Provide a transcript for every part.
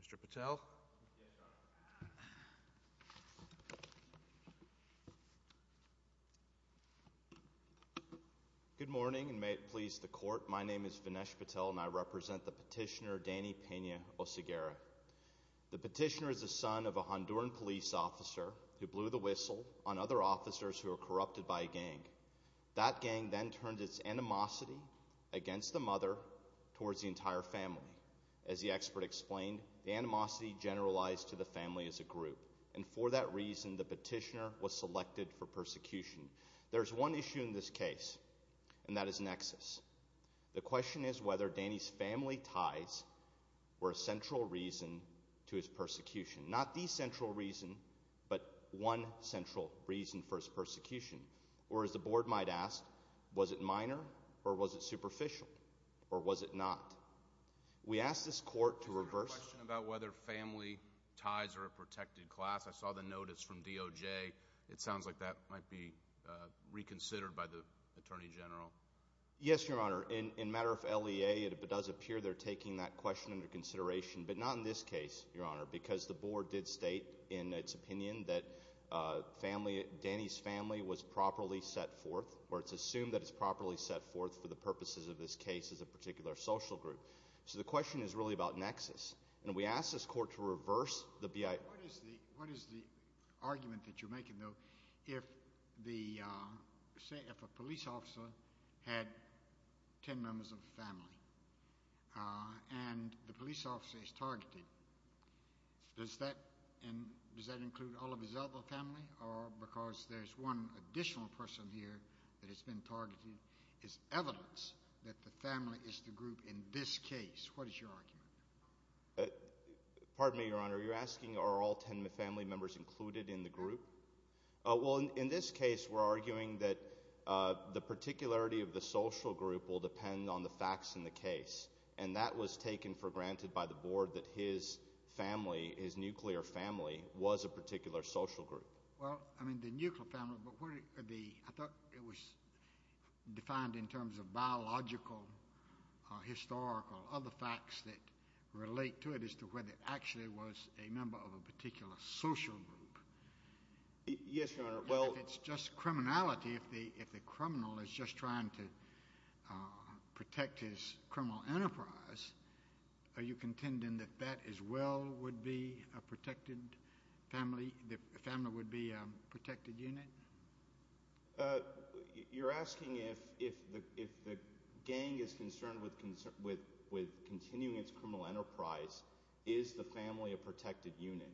Mr. Patel. Good morning and may it please the court my name is Vinesh Patel and I represent the petitioner Dany Pena Oseguera. The petitioner is the son of a Honduran police officer who blew the whistle on other officers who are corrupted by a gang. That gang then turned its animosity against the mother towards the entire family. As the expert explained the animosity generalized to the family as a group and for that reason the petitioner was selected for persecution. There's one issue in this case and that is nexus. The question is whether Dany's family ties were a central reason to his persecution. Not the central reason but one central reason for his persecution. Or as the question about whether family ties are a protected class. I saw the notice from DOJ. It sounds like that might be reconsidered by the Attorney General. Yes your honor. In matter of LEA it does appear they're taking that question into consideration but not in this case your honor because the board did state in its opinion that Dany's family was properly set forth or it's assumed that it's properly set forth for the purposes of this case as a particular family. As a particular social group. So the question is really about nexus and we ask this court to reverse the BIA. What is the argument that you're making though if a police officer had ten members of the family and the police officer is targeted. Does that include all of his other family? Or because there's one additional person here that has been targeted. Is evidence that the family is the group that was targeted. In this case what is your argument? Pardon me your honor. You're asking are all ten family members included in the group? Well in this case we're arguing that the particularity of the social group will depend on the facts in the case. And that was taken for granted by the board that his family, his nuclear family was a particular social group. Well I mean the nuclear family but what are the, I thought it was defined in terms of biological or historical or other facts that relate to it as to whether it actually was a member of a particular social group. Yes your honor. And if it's just criminality, if the criminal is just trying to protect his criminal enterprise, are you contending that that as well would be a protected family, the family would be a protected unit? You're asking if the gang is concerned with continuing its criminal enterprise, is the family a protected unit?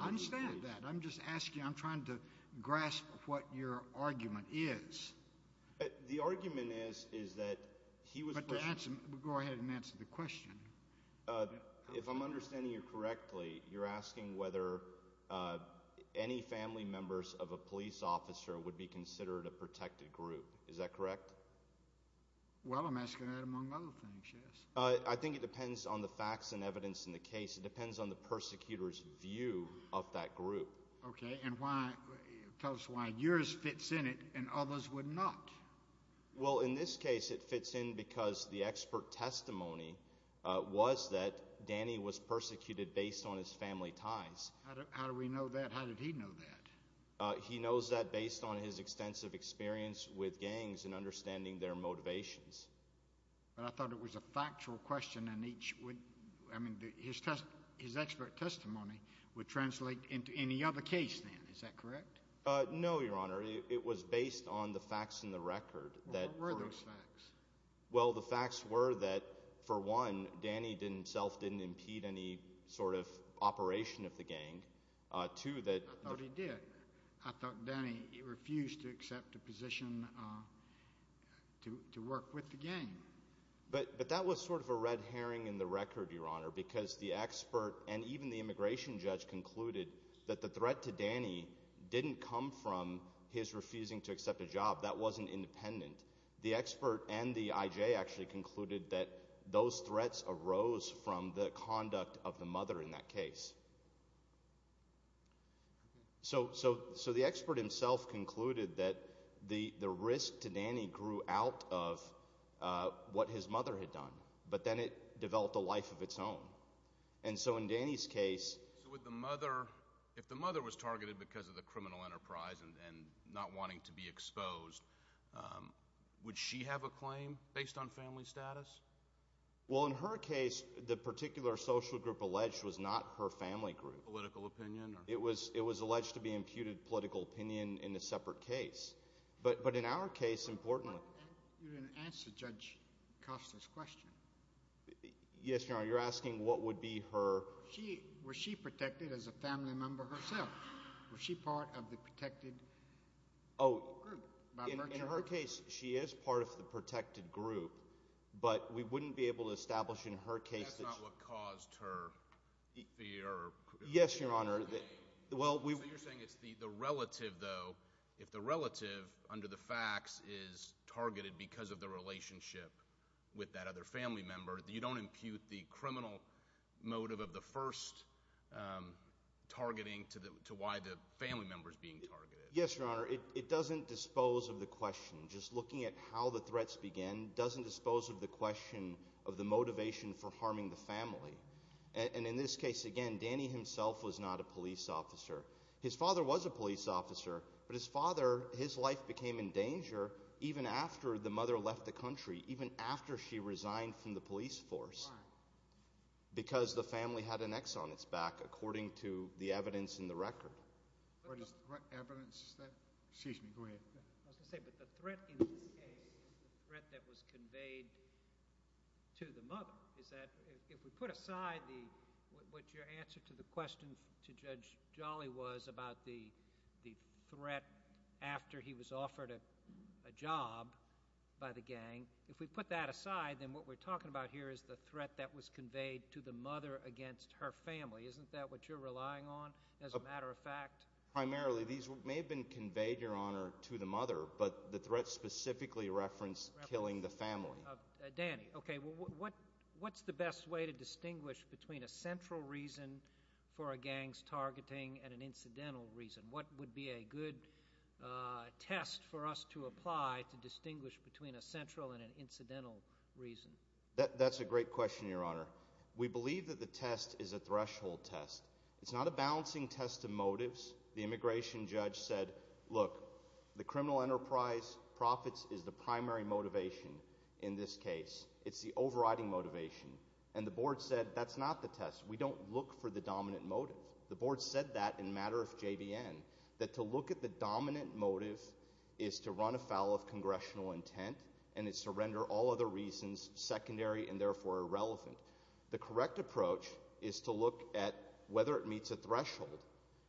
I understand that. I'm just asking, I'm trying to grasp what your argument is. The argument is that he was... Go ahead and answer the question. If I'm understanding you correctly, you're asking whether any family members of a police officer would be considered a protected group. Is that correct? Well I'm asking that among other things, yes. I think it depends on the facts and evidence in the case. It depends on the persecutor's view of that group. Okay and why, tell us why yours fits in it and others would not. Well in this case it fits in because the expert testimony was that Danny was persecuted based on his family ties. How do we know that? How did he know that? He knows that based on his extensive experience with gangs and understanding their motivations. But I thought it was a factual question and his expert testimony would translate into any other case then, is that correct? No Your Honor, it was based on the facts in the record. What were those facts? Well the facts were that for one, Danny himself didn't impede any sort of operation of the gang. I thought he did. But that was sort of a red herring in the record, Your Honor, because the expert and even the immigration judge concluded that the threat to Danny didn't come from his refusing to accept a job. That wasn't independent. The expert and the IJ actually concluded that those threats arose from the conduct of the mother in that case. So the expert himself concluded that the risk to Danny grew out of what his mother had done. But then it developed a life of its own. And so in Danny's case. So if the mother was targeted because of the criminal enterprise and not wanting to be exposed, would she have a claim based on family status? Well in her case, the particular social group alleged was not her family group. Political opinion? It was alleged to be imputed political opinion in a separate case. But in our case, importantly. You didn't answer Judge Costa's question. Yes, Your Honor, you're asking what would be her. Was she protected as a family member herself? Was she part of the protected group? In her case, she is part of the protected group. But we wouldn't be able to establish in her case. That's not what caused her fear. Yes, Your Honor. Well, you're saying it's the relative though. If the relative under the facts is targeted because of the relationship with that other family member, you don't impute the criminal motive of the first targeting to why the family member is being targeted. Yes, Your Honor. It doesn't dispose of the question. Just looking at how the threats began doesn't dispose of the question of the motivation for harming the family. And in this case, again, Danny himself was not a police officer. His father was a police officer. But his father, his life became in danger even after the mother left the country, even after she resigned from the police force because the family had an X on its back according to the evidence in the record. What evidence is that? Excuse me. Go ahead. I was going to say, but the threat in this case is the threat that was conveyed to the mother. If we put aside what your answer to the question to Judge Jolly was about the threat after he was offered a job by the gang, if we put that aside, then what we're talking about here is the threat that was conveyed to the mother against her family. Isn't that what you're relying on as a matter of fact? Primarily, these may have been conveyed, Your Honor, to the mother, but the threat specifically referenced killing the family. Danny, okay, what's the best way to distinguish between a central reason for a gang's targeting and an incidental reason? What would be a good test for us to apply to distinguish between a central and an incidental reason? That's a great question, Your Honor. We believe that the test is a threshold test. It's not a balancing test of motives. The immigration judge said, look, the criminal enterprise profits is the primary motivation in this case. It's the overriding motivation. And the board said, that's not the test. We don't look for the dominant motive. The board said that in matter of JVN, that to look at the dominant motive is to run afoul of congressional intent, and it's to render all other reasons secondary and therefore irrelevant. The correct approach is to look at whether it meets a threshold.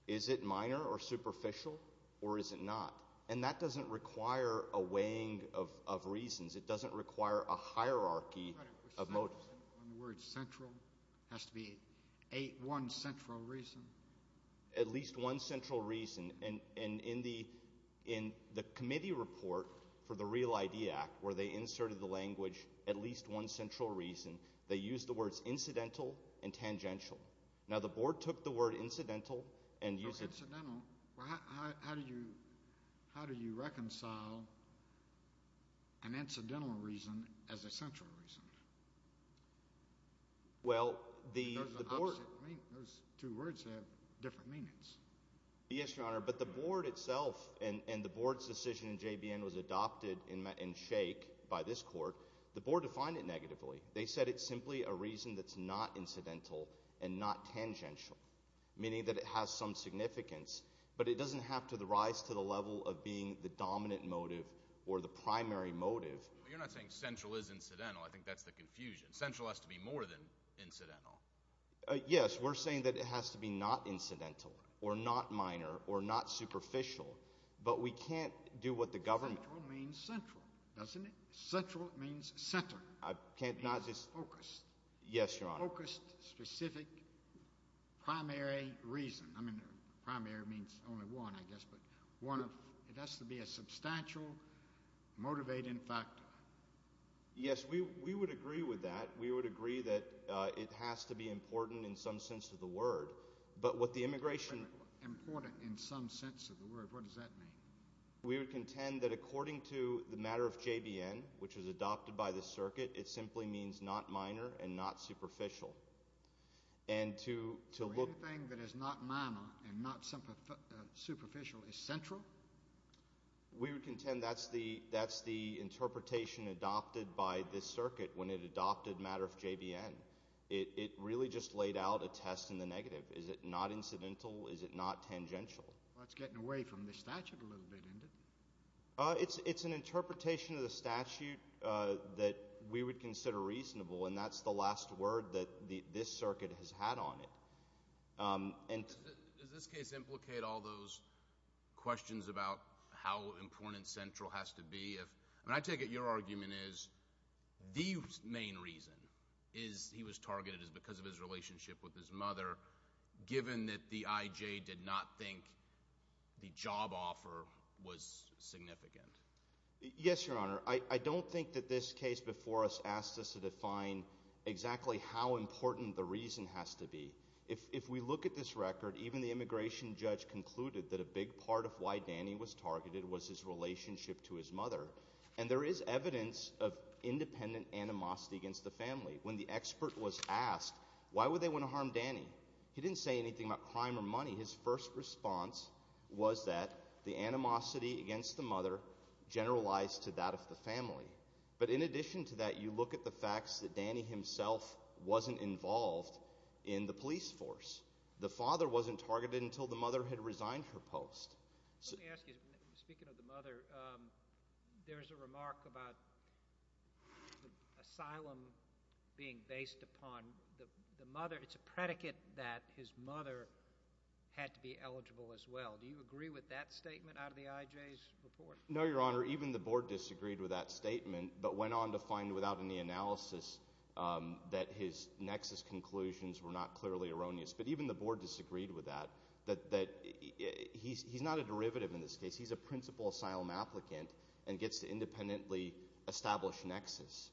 Is it minor or superficial, or is it not? And that doesn't require a weighing of reasons. It doesn't require a hierarchy of motives. The word central has to be one central reason? At least one central reason. And in the committee report for the Real ID Act, where they inserted the language at least one central reason, they used the words incidental and tangential. Now, the board took the word incidental and used it. Well, how do you reconcile an incidental reason as a central reason? Those two words have different meanings. Yes, Your Honor, but the board itself and the board's decision in JVN was adopted in shake by this court. The board defined it negatively. They said it's simply a reason that's not incidental and not tangential, meaning that it has some significance, but it doesn't have to rise to the level of being the dominant motive or the primary motive. You're not saying central is incidental. I think that's the confusion. Central has to be more than incidental. Yes, we're saying that it has to be not incidental or not minor or not superficial, but we can't do what the government— Primary means only one, I guess, but one of—it has to be a substantial motivating factor. Yes, we would agree with that. We would agree that it has to be important in some sense of the word, but what the immigration— Important in some sense of the word. What does that mean? We would contend that according to the matter of JVN, which was adopted by the circuit, it simply means not minor and not superficial. Anything that is not minor and not superficial is central? We would contend that's the interpretation adopted by this circuit when it adopted matter of JVN. It really just laid out a test in the negative. Is it not incidental? Is it not tangential? That's getting away from the statute a little bit, isn't it? It's an interpretation of the statute that we would consider reasonable, and that's the last word that this circuit has had on it. Does this case implicate all those questions about how important Central has to be? I take it your argument is the main reason is he was targeted is because of his relationship with his mother, given that the IJ did not think the job offer was significant. Yes, Your Honor. I don't think that this case before us asked us to define exactly how important the reason has to be. If we look at this record, even the immigration judge concluded that a big part of why Danny was targeted was his relationship to his mother. And there is evidence of independent animosity against the family. When the expert was asked, why would they want to harm Danny, he didn't say anything about crime or money. His first response was that the animosity against the mother generalized to that of the family. But in addition to that, you look at the facts that Danny himself wasn't involved in the police force. The father wasn't targeted until the mother had resigned her post. Let me ask you, speaking of the mother, there's a remark about asylum being based upon the mother. It's a predicate that his mother had to be eligible as well. Do you agree with that statement out of the IJ's report? No, Your Honor. Even the board disagreed with that statement but went on to find without any analysis that his nexus conclusions were not clearly erroneous. But even the board disagreed with that, that he's not a derivative in this case. He's a principal asylum applicant and gets to independently establish nexus.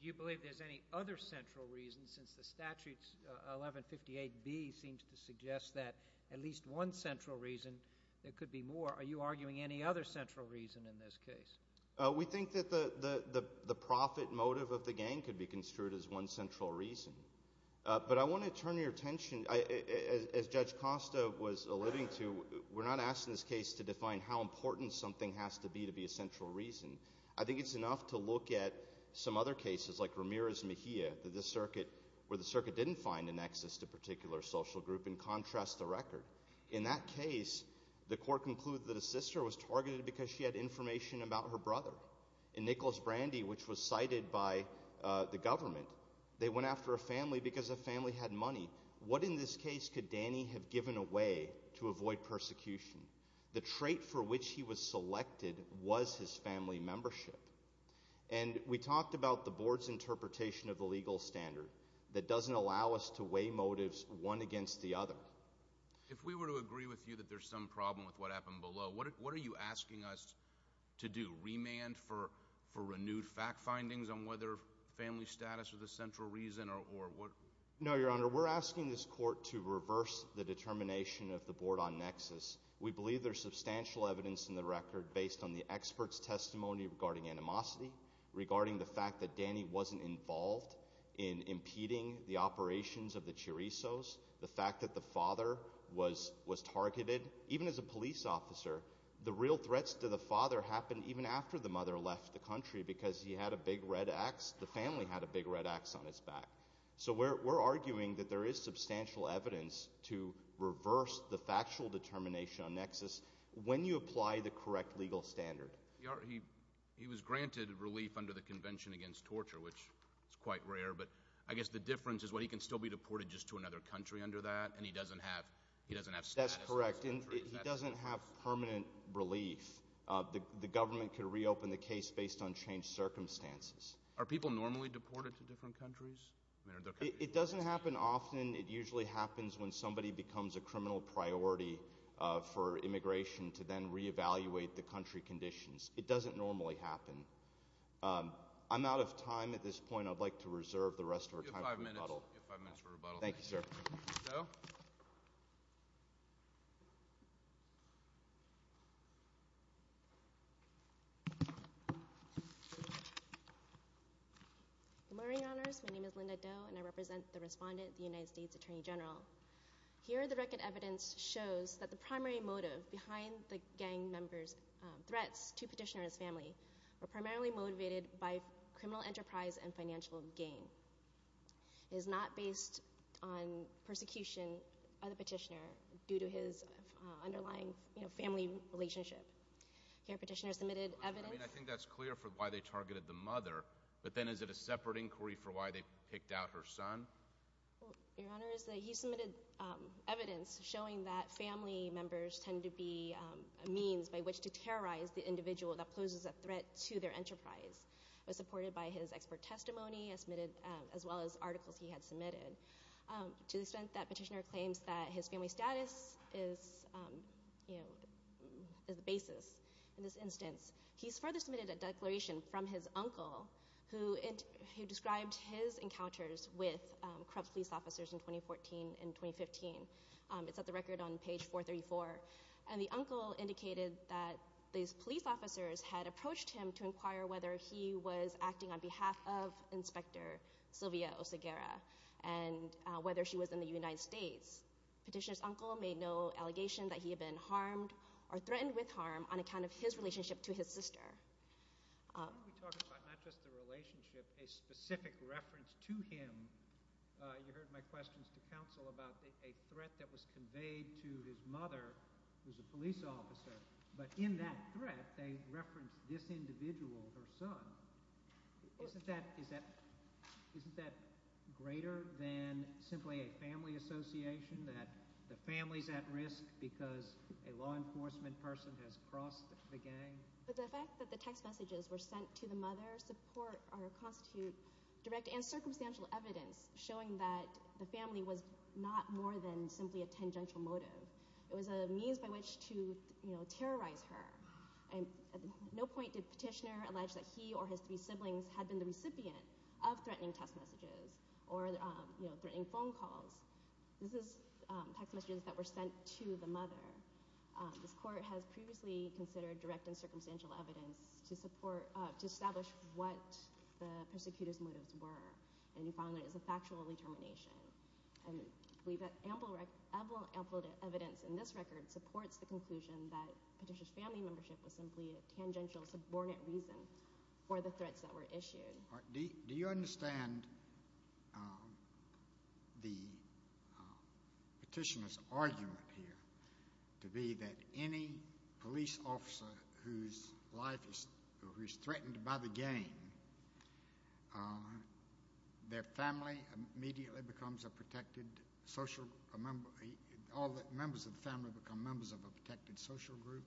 Do you believe there's any other central reason since the statutes 1158B seems to suggest that at least one central reason there could be more. Are you arguing any other central reason in this case? We think that the profit motive of the gang could be construed as one central reason. But I want to turn your attention, as Judge Costa was alluding to, we're not asking this case to define how important something has to be to be a central reason. I think it's enough to look at some other cases like Ramirez-Mejia where the circuit didn't find a nexus to a particular social group and contrast the record. In that case, the court concluded that a sister was targeted because she had information about her brother. In Nicholas Brandy, which was cited by the government, they went after a family because the family had money. What in this case could Danny have given away to avoid persecution? The trait for which he was selected was his family membership. And we talked about the board's interpretation of the legal standard that doesn't allow us to weigh motives one against the other. If we were to agree with you that there's some problem with what happened below, what are you asking us to do? Remand for renewed fact findings on whether family status was a central reason or what? No, Your Honor, we're asking this court to reverse the determination of the board on nexus. We believe there's substantial evidence in the record based on the expert's testimony regarding animosity, regarding the fact that Danny wasn't involved in impeding the operations of the Chirissos, the fact that the father was targeted. Even as a police officer, the real threats to the father happened even after the mother left the country because he had a big red axe. The family had a big red axe on its back. So we're arguing that there is substantial evidence to reverse the factual determination on nexus when you apply the correct legal standard. He was granted relief under the Convention Against Torture, which is quite rare. But I guess the difference is, well, he can still be deported just to another country under that, and he doesn't have status. That's correct, and he doesn't have permanent relief. The government could reopen the case based on changed circumstances. Are people normally deported to different countries? It doesn't happen often. It usually happens when somebody becomes a criminal priority for immigration to then reevaluate the country conditions. It doesn't normally happen. I'm out of time at this point. I'd like to reserve the rest of our time for rebuttal. You have five minutes for rebuttal. Thank you, sir. Good morning, Your Honors. My name is Linda Doe, and I represent the respondent, the United States Attorney General. Here, the record evidence shows that the primary motive behind the gang member's threats to Petitioner and his family were primarily motivated by criminal enterprise and financial gain. It is not based on persecution of the Petitioner due to his underlying family relationship. Here, Petitioner submitted evidence— I mean, I think that's clear for why they targeted the mother, but then is it a separate inquiry for why they picked out her son? Your Honors, he submitted evidence showing that family members tend to be a means by which to terrorize the individual that poses a threat to their enterprise. It was supported by his expert testimony as well as articles he had submitted. To the extent that Petitioner claims that his family status is the basis in this instance, he's further submitted a declaration from his uncle who described his encounters with corrupt police officers in 2014 and 2015. It's at the record on page 434. And the uncle indicated that these police officers had approached him to inquire whether he was acting on behalf of Inspector Sylvia Oseguera and whether she was in the United States. Petitioner's uncle made no allegation that he had been harmed or threatened with harm on account of his relationship to his sister. Why are we talking about not just the relationship, a specific reference to him? You heard my questions to counsel about a threat that was conveyed to his mother, who's a police officer. But in that threat, they referenced this individual, her son. Isn't that greater than simply a family association, that the family's at risk because a law enforcement person has crossed the gang? But the fact that the text messages were sent to the mother support or constitute direct and circumstantial evidence showing that the family was not more than simply a tangential motive. It was a means by which to terrorize her. At no point did Petitioner allege that he or his three siblings had been the recipient of threatening text messages or threatening phone calls. This is text messages that were sent to the mother. This Court has previously considered direct and circumstantial evidence to establish what the persecutor's motives were. And we found that it was a factual determination. And we have ample evidence in this record supports the conclusion that Petitioner's family membership was simply a tangential subordinate reason for the threats that were issued. Do you understand the Petitioner's argument here to be that any police officer whose life is threatened by the gang, their family immediately becomes a protected social member? All the members of the family become members of a protected social group?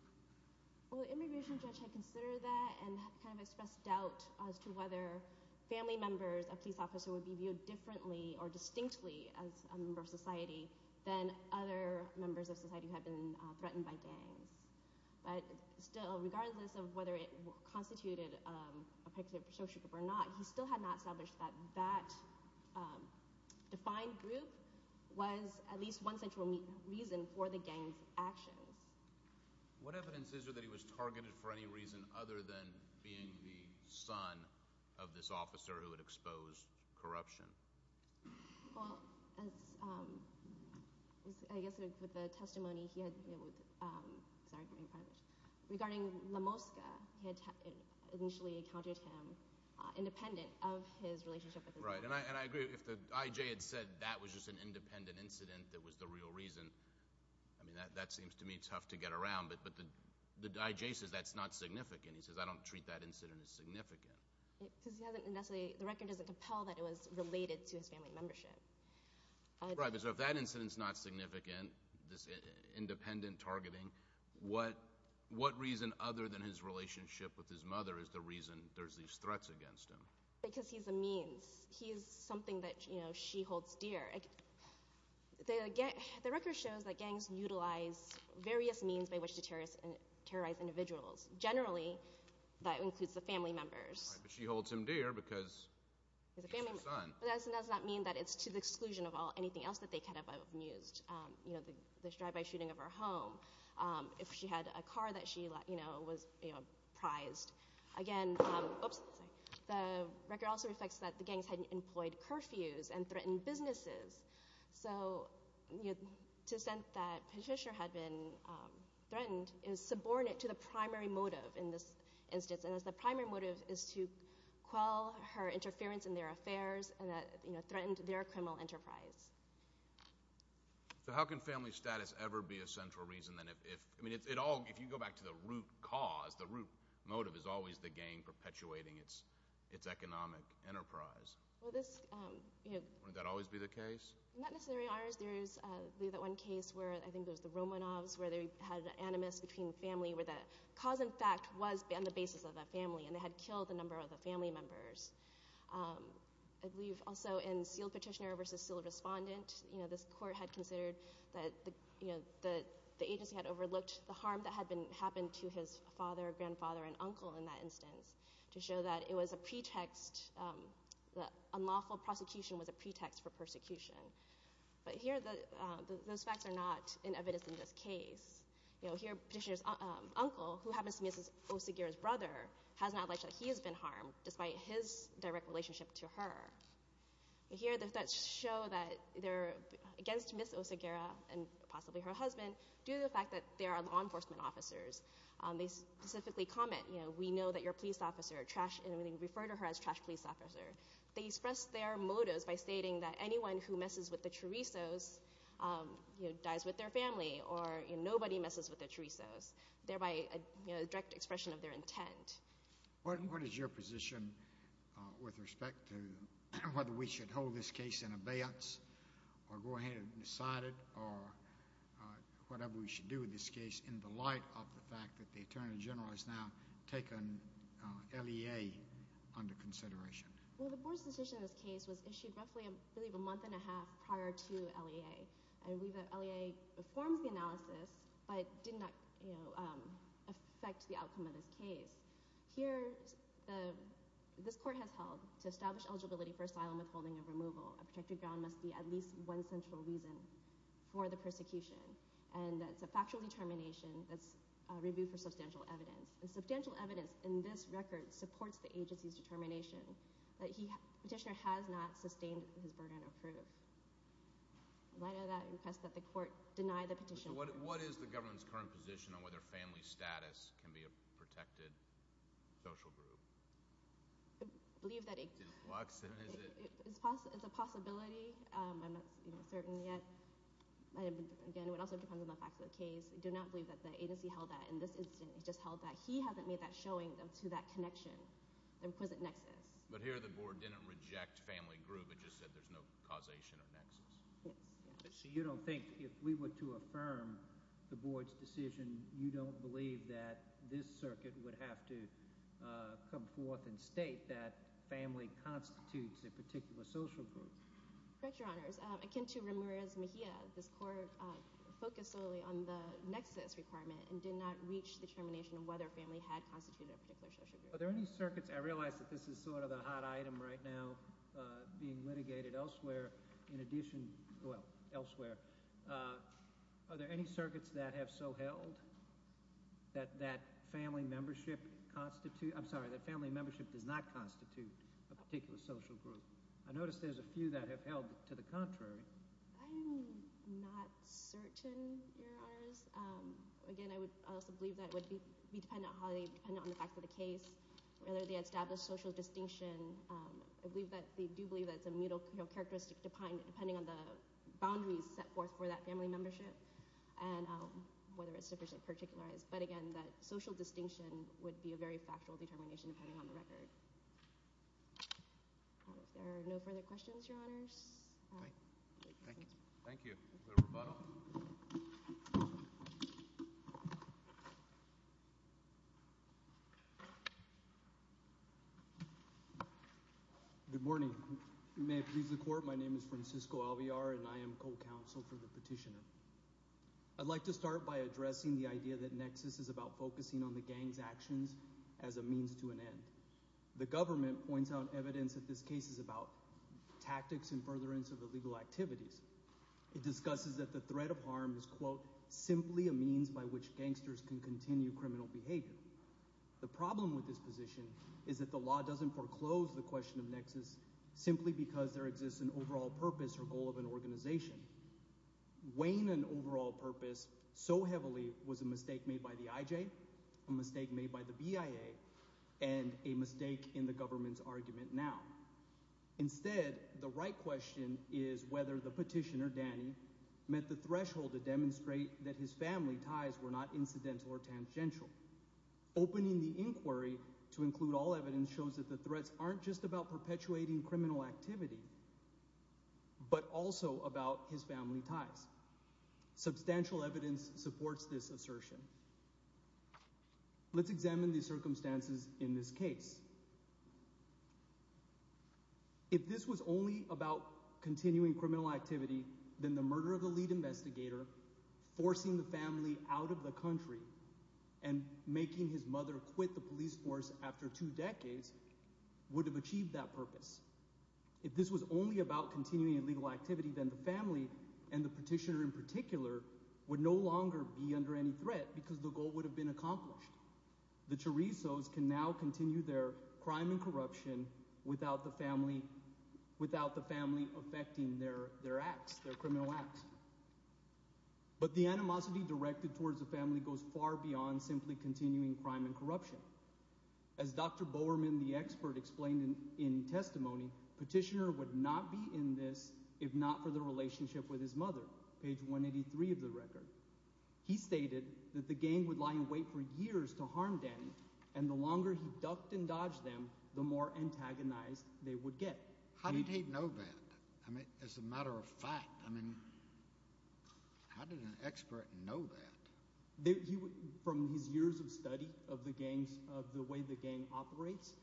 Well, the immigration judge had considered that and kind of expressed doubt as to whether family members of police officers would be viewed differently or distinctly as a member of society than other members of society who had been threatened by gangs. But still, regardless of whether it constituted a protected social group or not, he still had not established that that defined group was at least one central reason for the gang's actions. What evidence is there that he was targeted for any reason other than being the son of this officer who had exposed corruption? Well, I guess with the testimony he had – sorry, regarding Lomowska. He had initially encountered him independent of his relationship with his father. Right, and I agree. If the IJ had said that was just an independent incident that was the real reason, I mean, that seems to me tough to get around. But the IJ says that's not significant. He says, I don't treat that incident as significant. Because he hasn't necessarily – the record doesn't compel that it was related to his family membership. Right, but if that incident's not significant, this independent targeting, what reason other than his relationship with his mother is the reason there's these threats against him? Because he's a means. He's something that she holds dear. The record shows that gangs utilize various means by which to terrorize individuals. Generally, that includes the family members. Right, but she holds him dear because he's her son. But that does not mean that it's to the exclusion of anything else that they could have used. You know, the drive-by shooting of her home, if she had a car that she was prized. Again, the record also reflects that the gangs had employed curfews and threatened businesses. So to the extent that Patricia had been threatened is subordinate to the primary motive in this instance. And the primary motive is to quell her interference in their affairs and that threatened their criminal enterprise. So how can family status ever be a central reason? I mean, if you go back to the root cause, the root motive is always the gang perpetuating its economic enterprise. Would that always be the case? Not necessarily, Your Honors. There is that one case where I think it was the Romanovs where they had animus between family where the cause in fact was on the basis of the family and they had killed a number of the family members. I believe also in sealed petitioner versus sealed respondent, this court had considered that the agency had overlooked the harm that had happened to his father, grandfather, and uncle in that instance to show that it was a pretext, that unlawful prosecution was a pretext for persecution. But here those facts are not in evidence in this case. You know, here Petitioner's uncle, who happens to be Ms. Oseguera's brother, has not alleged that he has been harmed despite his direct relationship to her. Here the threats show that they're against Ms. Oseguera and possibly her husband due to the fact that they are law enforcement officers. They specifically comment, you know, we know that you're a police officer, and we refer to her as trash police officer. They express their motives by stating that anyone who messes with the Chorizos dies with their family or nobody messes with the Chorizos, thereby a direct expression of their intent. What is your position with respect to whether we should hold this case in abeyance or go ahead and decide it or whatever we should do with this case in the light of the fact that the Attorney General has now taken LEA under consideration? Well, the board's decision in this case was issued roughly, I believe, a month and a half prior to LEA. And we've had LEA perform the analysis but did not, you know, affect the outcome of this case. Here this court has held to establish eligibility for asylum withholding and removal. A protected ground must be at least one central reason for the persecution. And it's a factual determination that's reviewed for substantial evidence. And substantial evidence in this record supports the agency's determination that the petitioner has not sustained his burden of proof. In light of that, I request that the court deny the petition. What is the government's current position on whether family status can be a protected social group? I believe that it's a possibility. I'm not certain yet. Again, it also depends on the facts of the case. I do not believe that the agency held that in this instance. It just held that he hasn't made that showing to that connection, the requisite nexus. But here the board didn't reject family group. It just said there's no causation or nexus. Yes. So you don't think if we were to affirm the board's decision, you don't believe that this circuit would have to come forth and state that family constitutes a particular social group? Correct, Your Honors. Akin to Ramirez-Mejia, this court focused solely on the nexus requirement and did not reach the determination of whether family had constituted a particular social group. Are there any circuits? I realize that this is sort of a hot item right now being litigated elsewhere. Are there any circuits that have so held that family membership does not constitute a particular social group? I notice there's a few that have held to the contrary. I'm not certain, Your Honors. Again, I also believe that it would be dependent on the facts of the case, whether they establish social distinction. I do believe that it's a mutual characteristic depending on the boundaries set forth for that family membership and whether it's sufficiently particularized. But again, that social distinction would be a very factual determination depending on the record. If there are no further questions, Your Honors. Thank you. Thank you. Is there a rebuttal? Good morning. May it please the court, my name is Francisco Alvear and I am co-counsel for the petitioner. I'd like to start by addressing the idea that nexus is about focusing on the gang's actions as a means to an end. The government points out evidence that this case is about tactics and furtherance of illegal activities. It discusses that the threat of harm is, quote, simply a means by which gangsters can continue criminal behavior. The problem with this position is that the law doesn't foreclose the question of nexus simply because there exists an overall purpose or goal of an organization. Weighing an overall purpose so heavily was a mistake made by the IJ, a mistake made by the BIA, and a mistake in the government's argument now. Instead, the right question is whether the petitioner, Danny, met the threshold to demonstrate that his family ties were not incidental or tangential. Opening the inquiry to include all evidence shows that the threats aren't just about perpetuating criminal activity but also about his family ties. Substantial evidence supports this assertion. Let's examine the circumstances in this case. If this was only about continuing criminal activity, then the murder of the lead investigator, forcing the family out of the country, and making his mother quit the police force after two decades would have achieved that purpose. If this was only about continuing illegal activity, then the family, and the petitioner in particular, would no longer be under any threat because the goal would have been accomplished. The Chorizos can now continue their crime and corruption without the family affecting their criminal acts. But the animosity directed towards the family goes far beyond simply continuing crime and corruption. As Dr. Bowerman, the expert, explained in testimony, petitioner would not be in this if not for the relationship with his mother, page 183 of the record. He stated that the gang would lie in wait for years to harm them, and the longer he ducked and dodged them, the more antagonized they would get. How did he know that? I mean as a matter of fact, I mean how did an expert know that? From his years of study of the gangs, of the way the gang operates,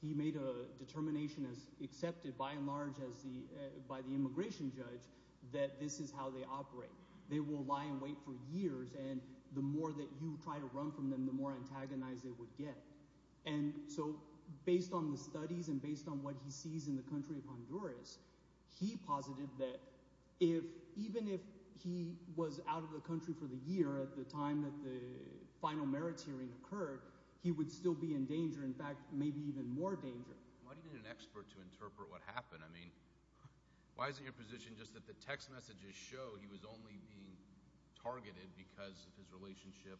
he made a determination as accepted by and large as the – by the immigration judge that this is how they operate. They will lie in wait for years, and the more that you try to run from them, the more antagonized they would get. And so based on the studies and based on what he sees in the country of Honduras, he posited that if – even if he was out of the country for the year at the time that the final merits hearing occurred, he would still be in danger, in fact maybe even more danger. Why do you need an expert to interpret what happened? I mean why is it your position just that the text messages show he was only being targeted because of his relationship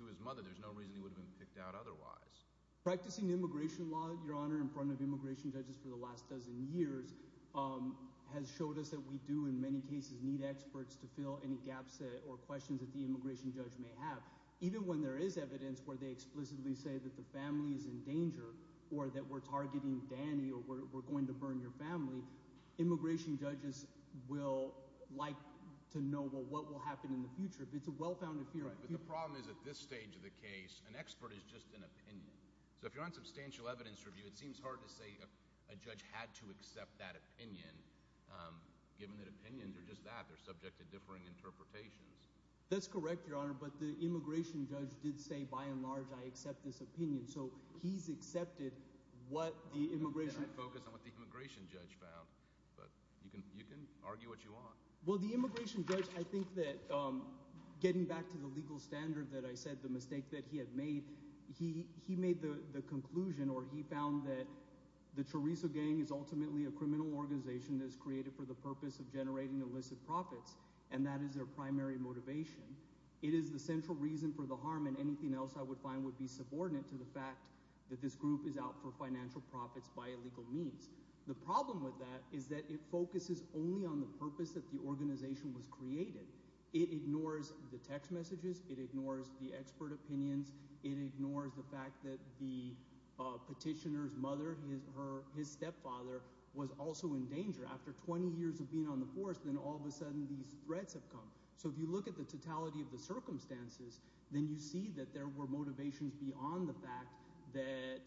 to his mother? There's no reason he would have been picked out otherwise. Practicing immigration law, Your Honor, in front of immigration judges for the last dozen years has showed us that we do in many cases need experts to fill any gaps or questions that the immigration judge may have. Even when there is evidence where they explicitly say that the family is in danger or that we're targeting Danny or we're going to burn your family, immigration judges will like to know what will happen in the future. It's a well-founded fear. But the problem is at this stage of the case, an expert is just an opinion. So if you're on substantial evidence review, it seems hard to say a judge had to accept that opinion given that opinions are just that. They're subject to differing interpretations. That's correct, Your Honor, but the immigration judge did say by and large I accept this opinion. So he's accepted what the immigration judge found. But you can argue what you want. Well, the immigration judge, I think that getting back to the legal standard that I said, the mistake that he had made, he made the conclusion or he found that the Chorizo gang is ultimately a criminal organization that is created for the purpose of generating illicit profits, and that is their primary motivation. It is the central reason for the harm, and anything else I would find would be subordinate to the fact that this group is out for financial profits by illegal means. The problem with that is that it focuses only on the purpose that the organization was created. It ignores the text messages. It ignores the expert opinions. It ignores the fact that the petitioner's mother, his stepfather, was also in danger. After 20 years of being on the force, then all of a sudden these threats have come. So if you look at the totality of the circumstances, then you see that there were motivations beyond the fact that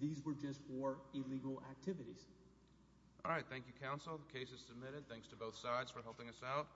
these were just for illegal activities. All right. Thank you, counsel. The case is submitted. Thanks to both sides for helping us out.